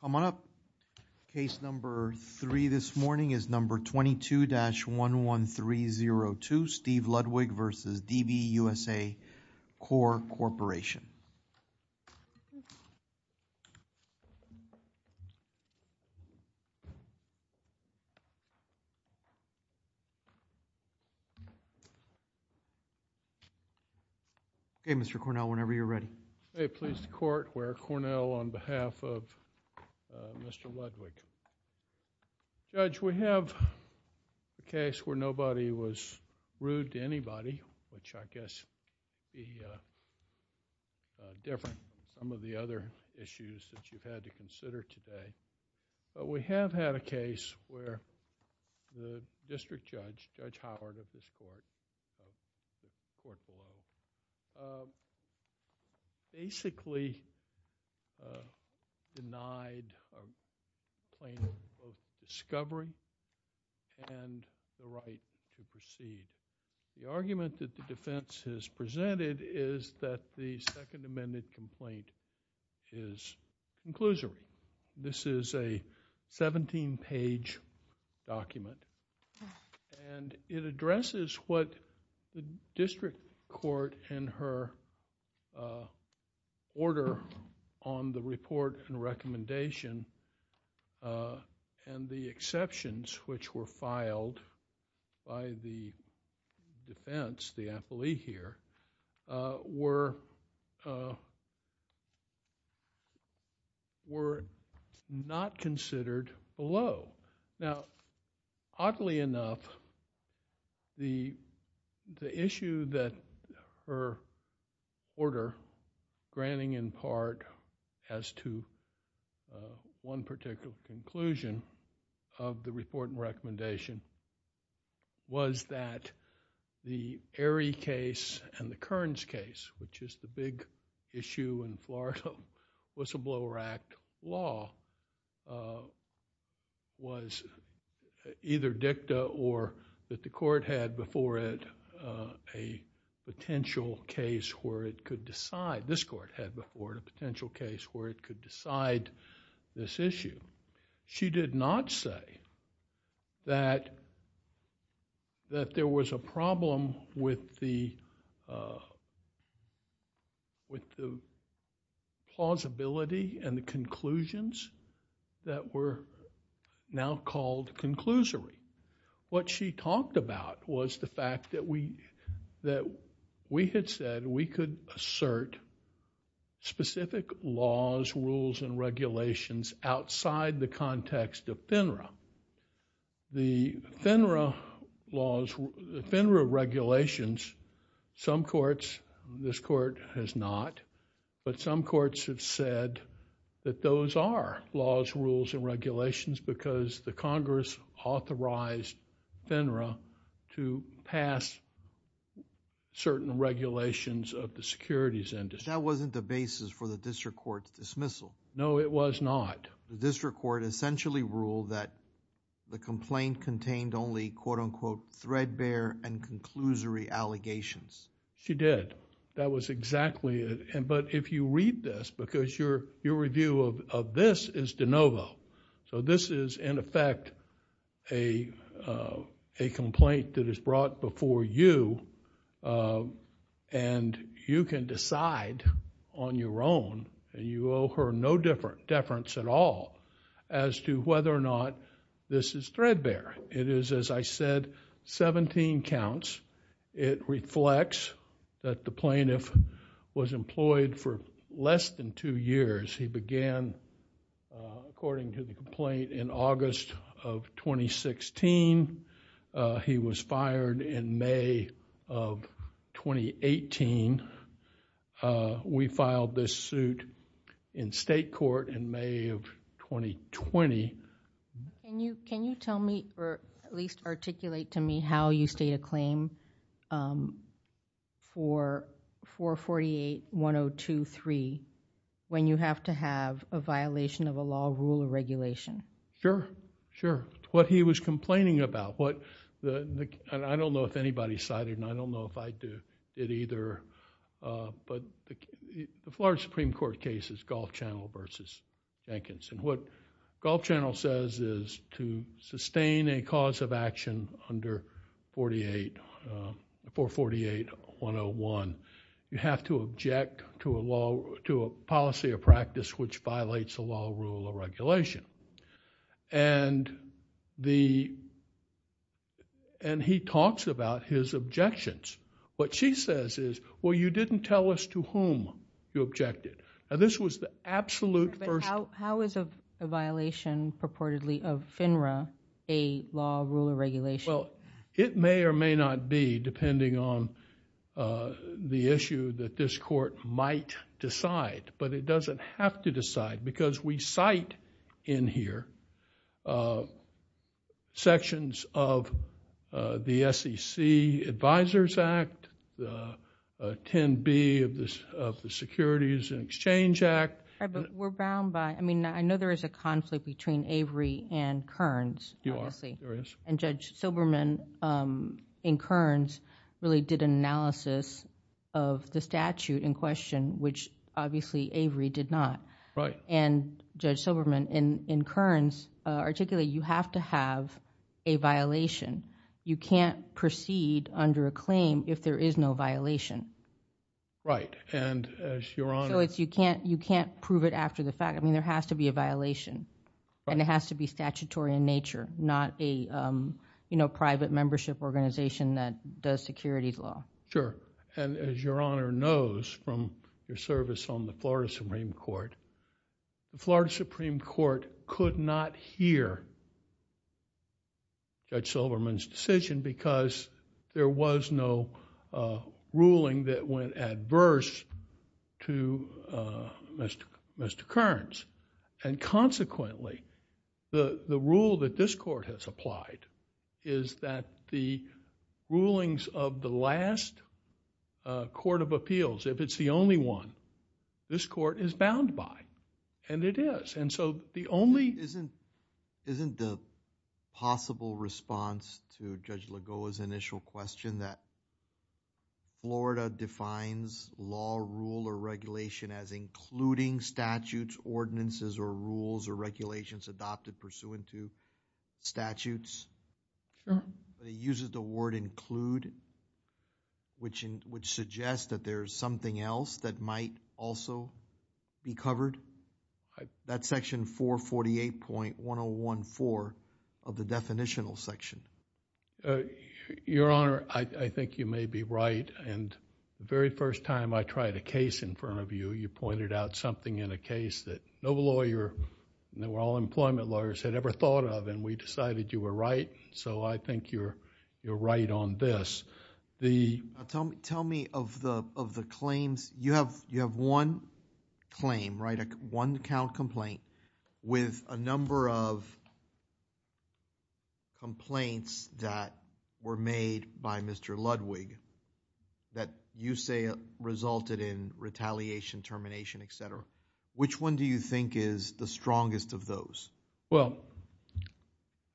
Come on up. Case number three this morning is number 22-11302, Steve Ludwig v. DB USA Core Corporation Okay, Mr. Cornell, whenever you're ready. I'm very pleased to court where Cornell, on behalf of Mr. Ludwig, Judge, we have a case where nobody was rude to anybody, which I guess would be different from some of the other issues that you've had to consider today, but we have had a case where the District Judge, Judge Howard of this court, basically denied a claim of discovery and the right to proceed. The argument that the defense has presented is that the second amended complaint is conclusive. This is a 17-page document and it addresses what the district court and her order on the report and recommendation and the exceptions which were filed by the defense, the affilee here, were not considered below. Now oddly enough, the issue that her order, granting in part as to one particular conclusion of the report and recommendation was that the Erie case and the Kearns case, which is the big issue in Florida whistleblower act law, was either dicta or that the court had before it a potential case where it could decide, this court had before it a potential case where it could decide this issue. She did not say that there was a problem with the plausibility and the conclusions that were now called conclusory. What she talked about was the fact that we had said we could assert specific laws, rules and regulations outside the context of FINRA. The FINRA regulations, some courts, this court has not, but some courts have said that those are laws, rules and regulations because the Congress authorized FINRA to pass certain regulations of the securities industry. Judge, that wasn't the basis for the district court's dismissal. No, it was not. The district court essentially ruled that the complaint contained only quote-unquote threadbare and conclusory allegations. She did. That was exactly it, but if you read this because your review of this is de novo. This is in effect a complaint that is brought before you and you can decide on your own and you owe her no deference at all as to whether or not this is threadbare. It is, as I said, 17 counts. It reflects that the plaintiff was employed for less than two years. He began, according to the complaint, in August of 2016. He was fired in May of 2018. We filed this suit in state court in May of 2020. Can you tell me or at least articulate to me how you state a claim for 448-1023 when you have to have a violation of a law, rule, or regulation? Sure. What he was complaining about. I don't know if anybody cited and I don't know if I did either, but the Florida Supreme Court case is Gulf Channel versus Jenkins. What Gulf Channel says is to sustain a cause of action under 448-101, you have to object to a policy or practice which violates a law, rule, or regulation. He talks about his objections. What she says is, well, you didn't tell us to whom you objected. This was the absolute first- How is a violation purportedly of FINRA a law, rule, or regulation? It may or may not be depending on the issue that this court might decide, but it doesn't have to decide because we cite in here sections of the SEC Advisors Act, the 10B of the Securities and Exchange Act. We're bound by... I mean, I know there is a conflict between Avery and Kearns, obviously. You are. Judge Silberman in Kearns really did an analysis of the statute in question, which obviously Avery did not. Right. Judge Silberman in Kearns articulated you have to have a violation. You can't proceed under a claim if there is no violation. Right. As your Honor... You can't prove it after the fact. I mean, there has to be a violation and it has to be statutory in nature, not a private membership organization that does securities law. Sure. As your Honor knows from your service on the Florida Supreme Court, the Florida Supreme Court could not hear Judge Silberman's decision because there was no ruling that went adverse to Mr. Kearns and consequently, the rule that this court has applied is that the rulings of the last court of appeals, if it's the only one, this court is bound by and it is. The only... Isn't the possible response to Judge Lagoa's initial question that Florida defines law, rule, or regulation as including statutes, ordinances, or rules or regulations adopted pursuant to statutes... Sure.... that it uses the word include, which suggests that there is something else that might also be covered? That's section 448.1014 of the definitional section. Your Honor, I think you may be right and the very first time I tried a case in front of you, you pointed out something in a case that no lawyer, all employment lawyers had ever thought of and we decided you were right, so I think you're right on this. Tell me of the claims. You have one claim, right? One count complaint with a number of complaints that were made by Mr. Ludwig that you say resulted in retaliation, termination, etc. Which one do you think is the strongest of those? Well,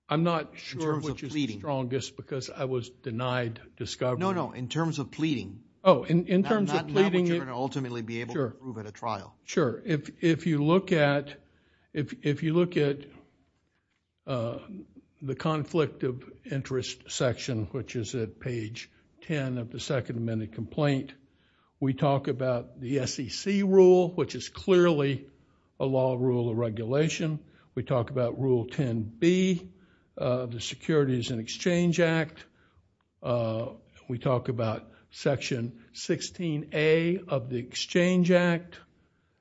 I'm not sure which is the strongest because I was denied discovery. No, no. In terms of pleading... Not what you're going to ultimately be able to prove at a trial. Sure. If you look at the conflict of interest section, which is at page 10 of the Second Amendment complaint, we talk about the SEC rule, which is clearly a law, rule, or regulation. We talk about Rule 10b of the Securities and Exchange Act. We talk about Section 16a of the Exchange Act,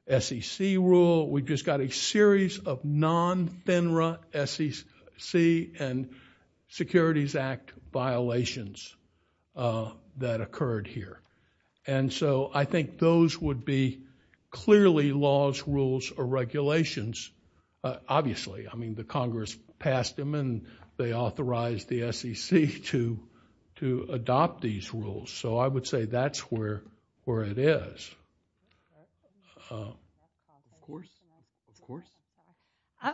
SEC rule. We've just got a series of non-FINRA SEC and Securities Act violations that occurred here. So I think those would be clearly laws, rules, or regulations, obviously. The Congress passed them and they authorized the SEC to adopt these rules. So I would say that's where it is.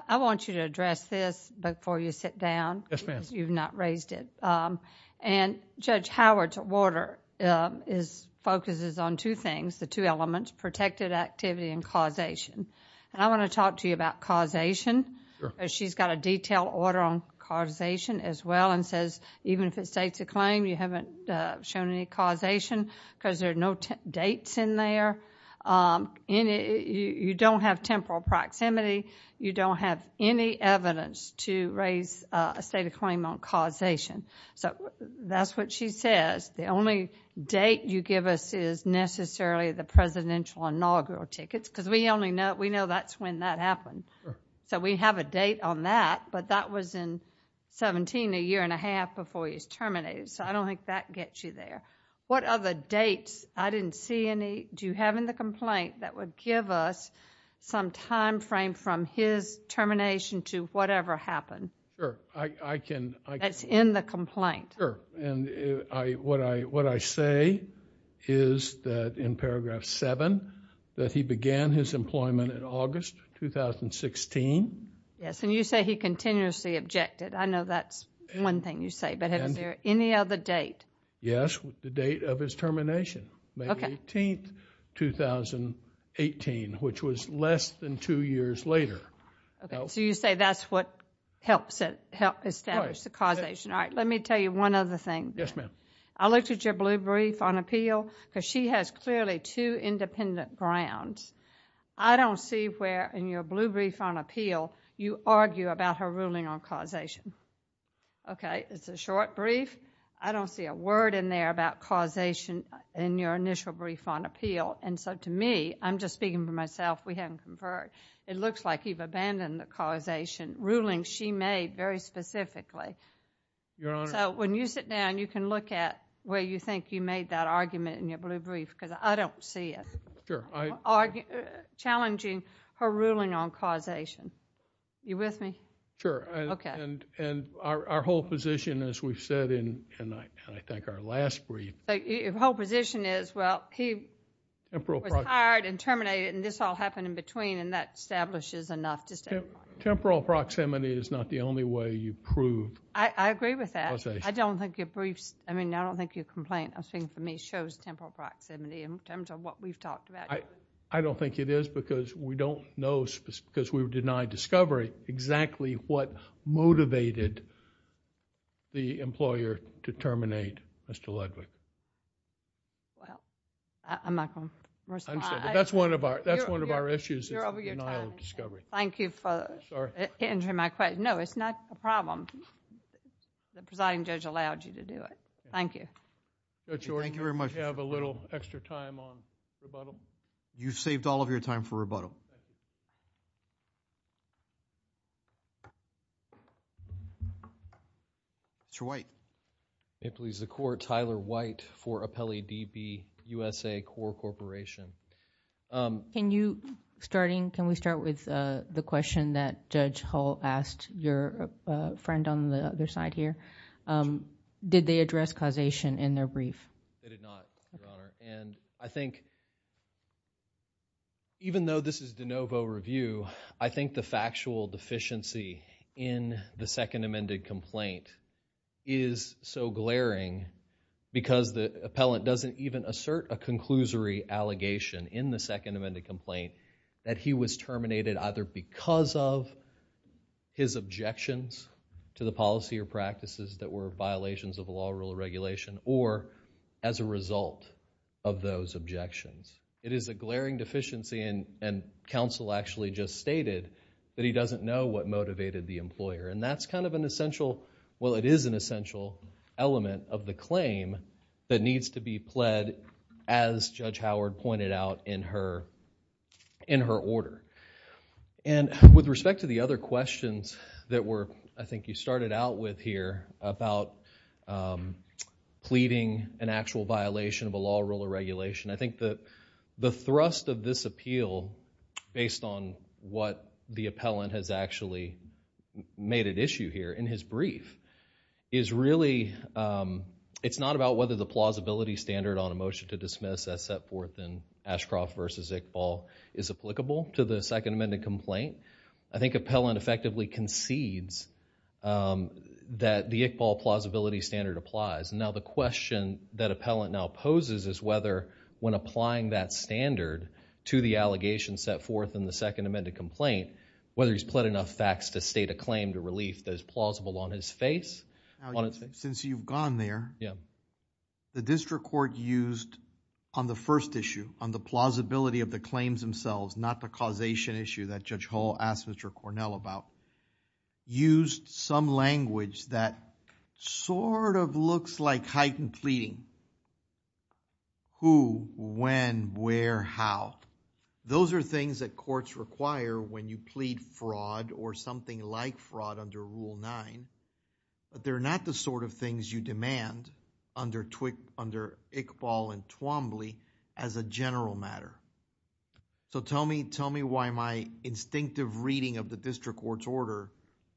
I want you to address this before you sit down. Yes, ma'am. Because you've not raised it. Judge Howard's order focuses on two things, the two elements, protected activity and causation. I want to talk to you about causation. She's got a detailed order on causation as well and says even if it states a claim, you haven't shown any causation because there are no dates in there. You don't have temporal proximity. You don't have any evidence to raise a state of claim on causation. So that's what she says. The only date you give us is necessarily the presidential inaugural tickets because we know that's when that happened. So we have a date on that, but that was in 17, a year and a half before he was terminated. So I don't think that gets you there. What other dates, I didn't see any, do you have in the complaint that would give us some time frame from his termination to whatever happened? Sure. I can. That's in the complaint. Sure. And what I say is that in paragraph seven, that he began his employment in August, 2016. Yes. And you say he continuously objected. I know that's one thing you say, but is there any other date? Yes. The date of his termination, May 18, 2018, which was less than two years later. Okay. So you say that's what helps establish the causation. Let me tell you one other thing. Yes, ma'am. I looked at your blue brief on appeal because she has clearly two independent grounds. I don't see where in your blue brief on appeal you argue about her ruling on causation. Okay. It's a short brief. I don't see a word in there about causation in your initial brief on appeal. And so to me, I'm just speaking for myself, we haven't conferred. It looks like you've abandoned the causation ruling she made very specifically. Your Honor. So when you sit down, you can look at where you think you made that argument in your blue brief because I don't see it. Sure. Challenging her ruling on causation. You with me? Sure. Okay. And our whole position, as we've said in, I think, our last brief. The whole position is, well, he was hired and terminated, and this all happened in between and that establishes enough to say. Temporal proximity is not the only way you prove causation. I agree with that. I don't think your briefs, I mean, I don't think your complaint, I'm speaking for me, shows temporal proximity in terms of what we've talked about. I don't think it is because we don't know, because we've denied discovery, exactly what motivated the employer to terminate Mr. Ludwig. Well, I'm not going to respond. That's one of our issues. You're over your time. It's a denial of discovery. Thank you for answering my question. Sorry. No, it's not a problem. The presiding judge allowed you to do it. Thank you. Thank you very much. Do we have a little extra time on rebuttal? You've saved all of your time for rebuttal. Mr. White. May it please the Court, Tyler White for Apelli DB, USA Corps Corporation. Can we start with the question that Judge Hull asked your friend on the other side here? Did they address causation in their brief? They did not, Your Honor. I think, even though this is de novo review, I think the factual deficiency in the second amendment is so glaring because the appellant doesn't even assert a conclusory allegation in the second amendment complaint that he was terminated either because of his objections to the policy or practices that were violations of the law, rule, or regulation, or as a result of those objections. It is a glaring deficiency, and counsel actually just stated that he doesn't know what motivated the employer. That's kind of an essential, well, it is an essential element of the claim that needs to be pled as Judge Howard pointed out in her order. With respect to the other questions that were, I think you started out with here about pleading an actual violation of a law, rule, or regulation, I think the thrust of this appeal based on what the appellant has actually made at issue here in his brief is really, it's not about whether the plausibility standard on a motion to dismiss as set forth in Ashcroft v. Iqbal is applicable to the second amendment complaint. I think appellant effectively concedes that the Iqbal plausibility standard applies. Now the question that appellant now poses is whether when applying that standard to the allegation set forth in the second amendment complaint, whether he's pled enough facts to state a claim to relief that is plausible on his face. Since you've gone there, the district court used on the first issue, on the plausibility of the claims themselves, not the causation issue that Judge Hall asked Mr. Cornell about, used some language that sort of looks like heightened pleading, who, when, where, how. Those are things that courts require when you plead fraud or something like fraud under Rule 9, but they're not the sort of things you demand under Iqbal and Twombly as a general matter. So tell me why my instinctive reading of the district court's order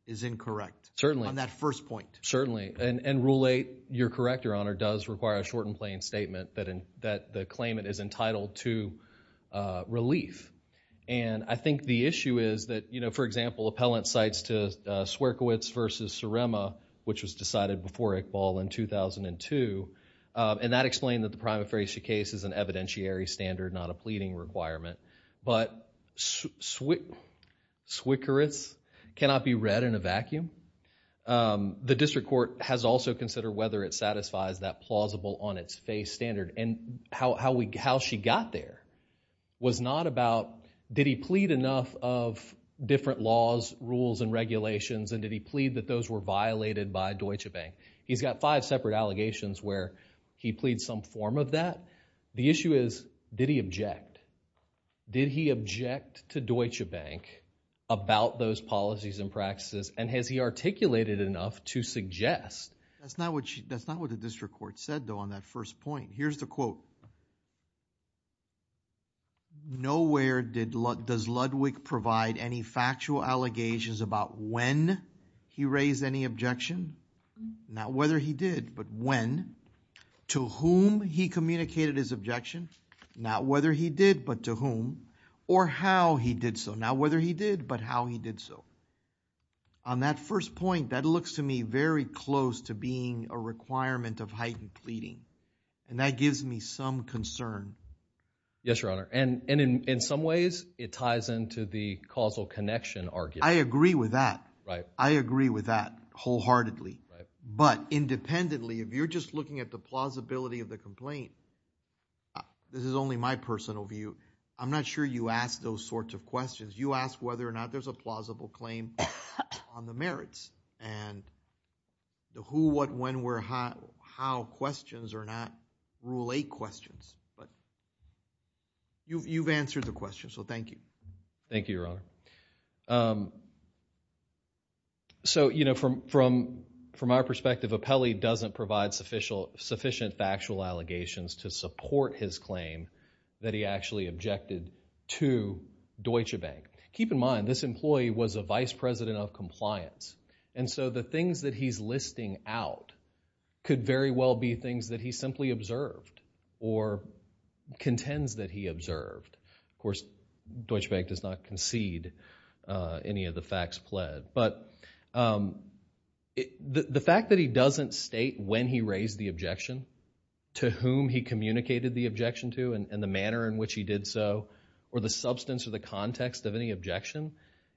is incorrect on that first point. Certainly. And Rule 8, you're correct, Your Honor, does require a short and plain statement that the claimant is entitled to relief. And I think the issue is that, you know, for example, appellant cites to Swerkiewicz v. Surema, which was decided before Iqbal in 2002, and that explained that the prima facie case is an evidentiary standard, not a pleading requirement. But Swerkiewicz cannot be read in a vacuum. The district court has also considered whether it satisfies that plausible on its face standard. And how she got there was not about, did he plead enough of different laws, rules, and regulations, and did he plead that those were violated by Deutsche Bank? He's got five separate allegations where he pleads some form of that. The issue is, did he object? Did he object to Deutsche Bank about those policies and practices, and has he articulated enough to suggest? That's not what the district court said, though, on that first point. Here's the quote. Nowhere does Ludwig provide any factual allegations about when he raised any objection, not whether he did, but when, to whom he communicated his objection, not whether he did, but to whom, or how he did so, not whether he did, but how he did so. On that first point, that looks to me very close to being a requirement of heightened pleading. And that gives me some concern. Yes, Your Honor. And in some ways, it ties into the causal connection argument. I agree with that. I agree with that wholeheartedly. But independently, if you're just looking at the plausibility of the complaint, this is only my personal view, I'm not sure you ask those sorts of questions. You ask whether or not there's a plausible claim on the merits, and the who, what, when, where, how questions are not Rule 8 questions, but you've answered the question, so thank you. Thank you, Your Honor. So you know, from our perspective, Apelli doesn't provide sufficient factual allegations to support his claim that he actually objected to Deutsche Bank. Keep in mind, this employee was a vice president of compliance, and so the things that he's listing out could very well be things that he simply observed, or contends that he observed. Of course, Deutsche Bank does not concede any of the facts pled. But the fact that he doesn't state when he raised the objection, to whom he communicated the objection to, and the manner in which he did so, or the substance or the context of any objection,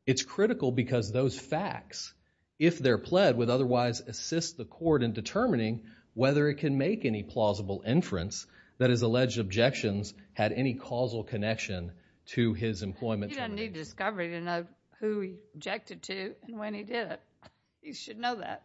it's critical because those facts, if they're pled, would otherwise assist the court in determining whether it can make any plausible inference that his alleged objections had any causal connection to his employment. He doesn't need discovery to know who he objected to, and when he did it. He should know that.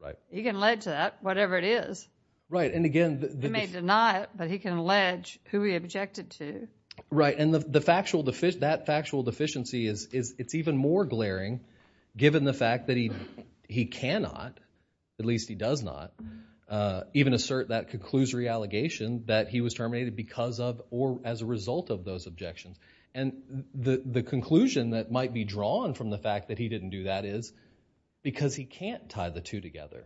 Right. He can allege that, whatever it is. Right, and again, the- He may deny it, but he can allege who he objected to. Right, and the factual, that factual deficiency is, it's even more glaring given the fact that he cannot, at least he does not, even assert that conclusory allegation that he was terminated because of, or as a result of those objections. And the conclusion that might be drawn from the fact that he didn't do that is, because he can't tie the two together.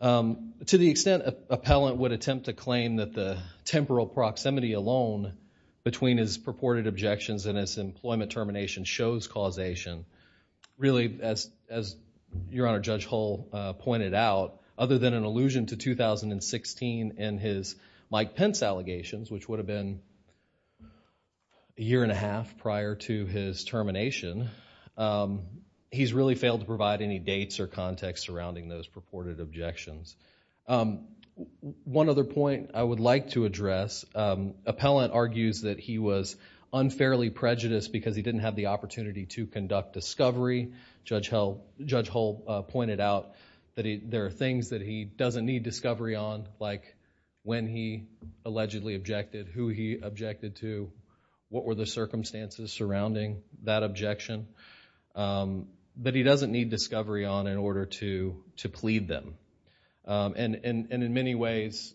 To the extent an appellant would attempt to claim that the temporal proximity alone between his purported objections and his employment termination shows causation, really, as Your Honor, Judge Hull pointed out, other than an allusion to 2016 and his Mike Pence allegations, which would have been a year and a half prior to his termination, he's really failed to capture context surrounding those purported objections. One other point I would like to address, appellant argues that he was unfairly prejudiced because he didn't have the opportunity to conduct discovery. Judge Hull pointed out that there are things that he doesn't need discovery on, like when he allegedly objected, who he objected to, what were the circumstances surrounding that in order to plead them. And in many ways,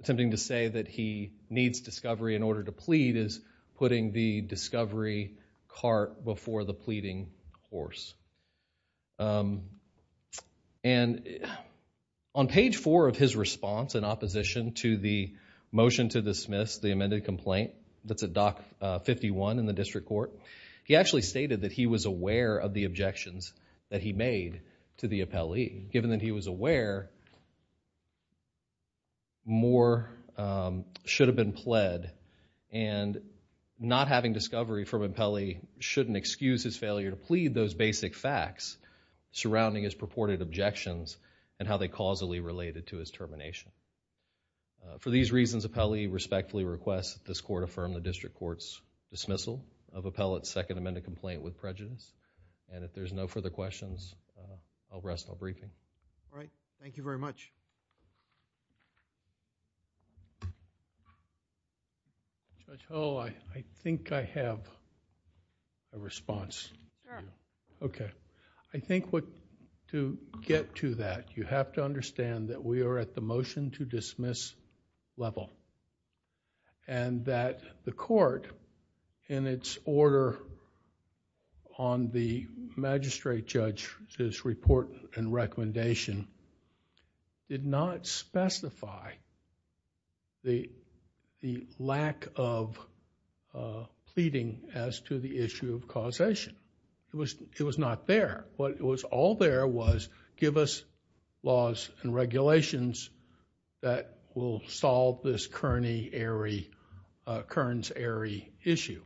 attempting to say that he needs discovery in order to plead is putting the discovery cart before the pleading horse. And on page four of his response in opposition to the motion to dismiss the amended complaint that's at Dock 51 in the District Court, he actually stated that he was aware of the objections that he made to the appellee. Given that he was aware, more should have been pled and not having discovery from an appellee shouldn't excuse his failure to plead those basic facts surrounding his purported objections and how they causally related to his termination. For these reasons, appellee respectfully requests that this Court affirm the District Court's dismissal of appellate's second amended complaint with prejudice. And if there's no further questions, I'll rest my briefing. All right. Thank you very much. Judge Hull, I think I have a response. Sure. Okay. I think to get to that, you have to understand that we are at the motion to dismiss level one, and that the Court in its order on the magistrate judge's report and recommendation did not specify the lack of pleading as to the issue of causation. It was not there. What was all there was give us laws and regulations that will solve this Kearns-Arey issue.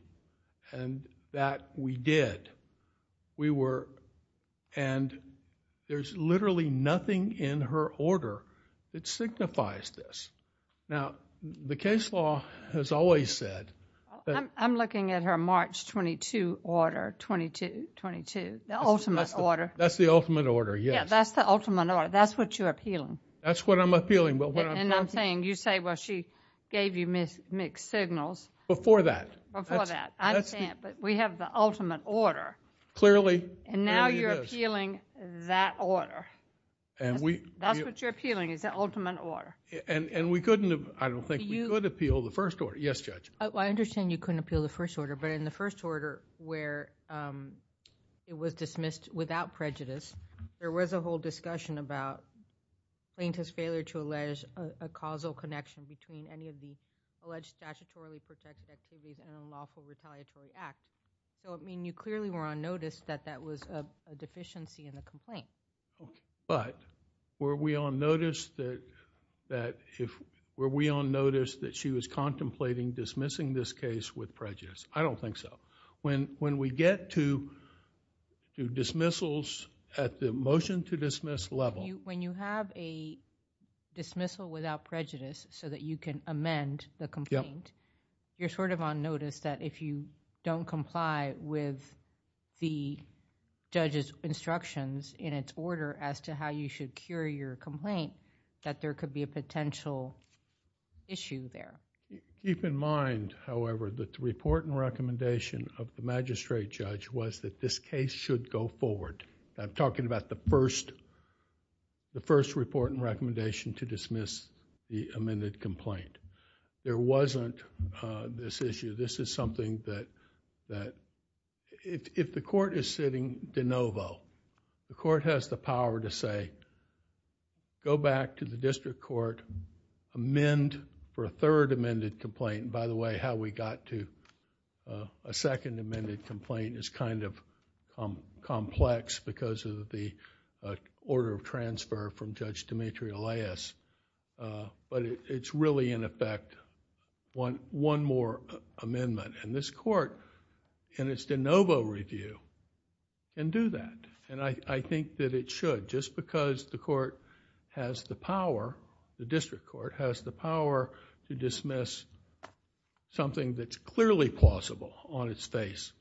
And that we did. We were... and there's literally nothing in her order that signifies this. Now the case law has always said... I'm looking at her March 22 order, the ultimate order. That's the ultimate order. Yes. Yeah, that's the ultimate order. That's what you're appealing. That's what I'm appealing, but what I'm... And I'm saying you say, well, she gave you mixed signals. Before that. Before that. I understand. But we have the ultimate order. Clearly. Clearly it is. And now you're appealing that order. And we... That's what you're appealing is the ultimate order. And we couldn't have... I don't think we could appeal the first order. Yes, Judge. I understand you couldn't appeal the first order, but in the first order where it was dismissed without prejudice, there was a whole discussion about plaintiff's failure to allege a causal connection between any of the alleged statutorily protected activities in a lawful retaliatory act. So, I mean, you clearly were on notice that that was a deficiency in the complaint. But were we on notice that she was contemplating dismissing this case with prejudice? I don't think so. When we get to dismissals at the motion to dismiss level... When you have a dismissal without prejudice so that you can amend the complaint, you're sort of on notice that if you don't comply with the judge's instructions in its order as to how you should cure your complaint, that there could be a potential issue there. Keep in mind, however, that the report and recommendation of the magistrate judge was that this case should go forward. I'm talking about the first report and recommendation to dismiss the amended complaint. There wasn't this issue. This is something that... If the court is sitting de novo, the court has the power to say, go back to the district court, amend for a third amended complaint. By the way, how we got to a second amended complaint is kind of complex because of the order of transfer from Judge Demetrio-Leyes. It's really, in effect, one more amendment. This court, in its de novo review, can do that. I think that it should just because the court has the power, the district court has the power to dismiss something that's clearly plausible on its face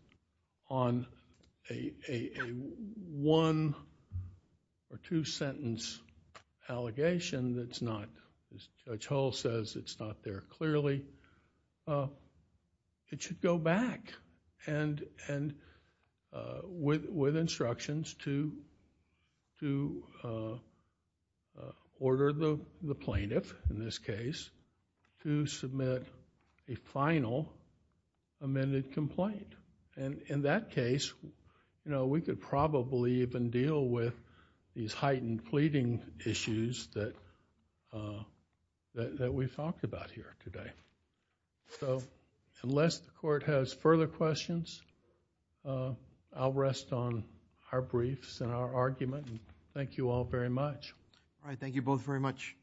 on a one or two sentence allegation that's not... Judge Hull says it's not there clearly. It should go back with instructions to order the plaintiff, in this case, to submit a final amended complaint. In that case, we could probably even deal with these heightened pleading issues that we've talked about here today. Unless the court has further questions, I'll rest on our briefs and our argument. Thank you all very much. All right. Thank you both very much.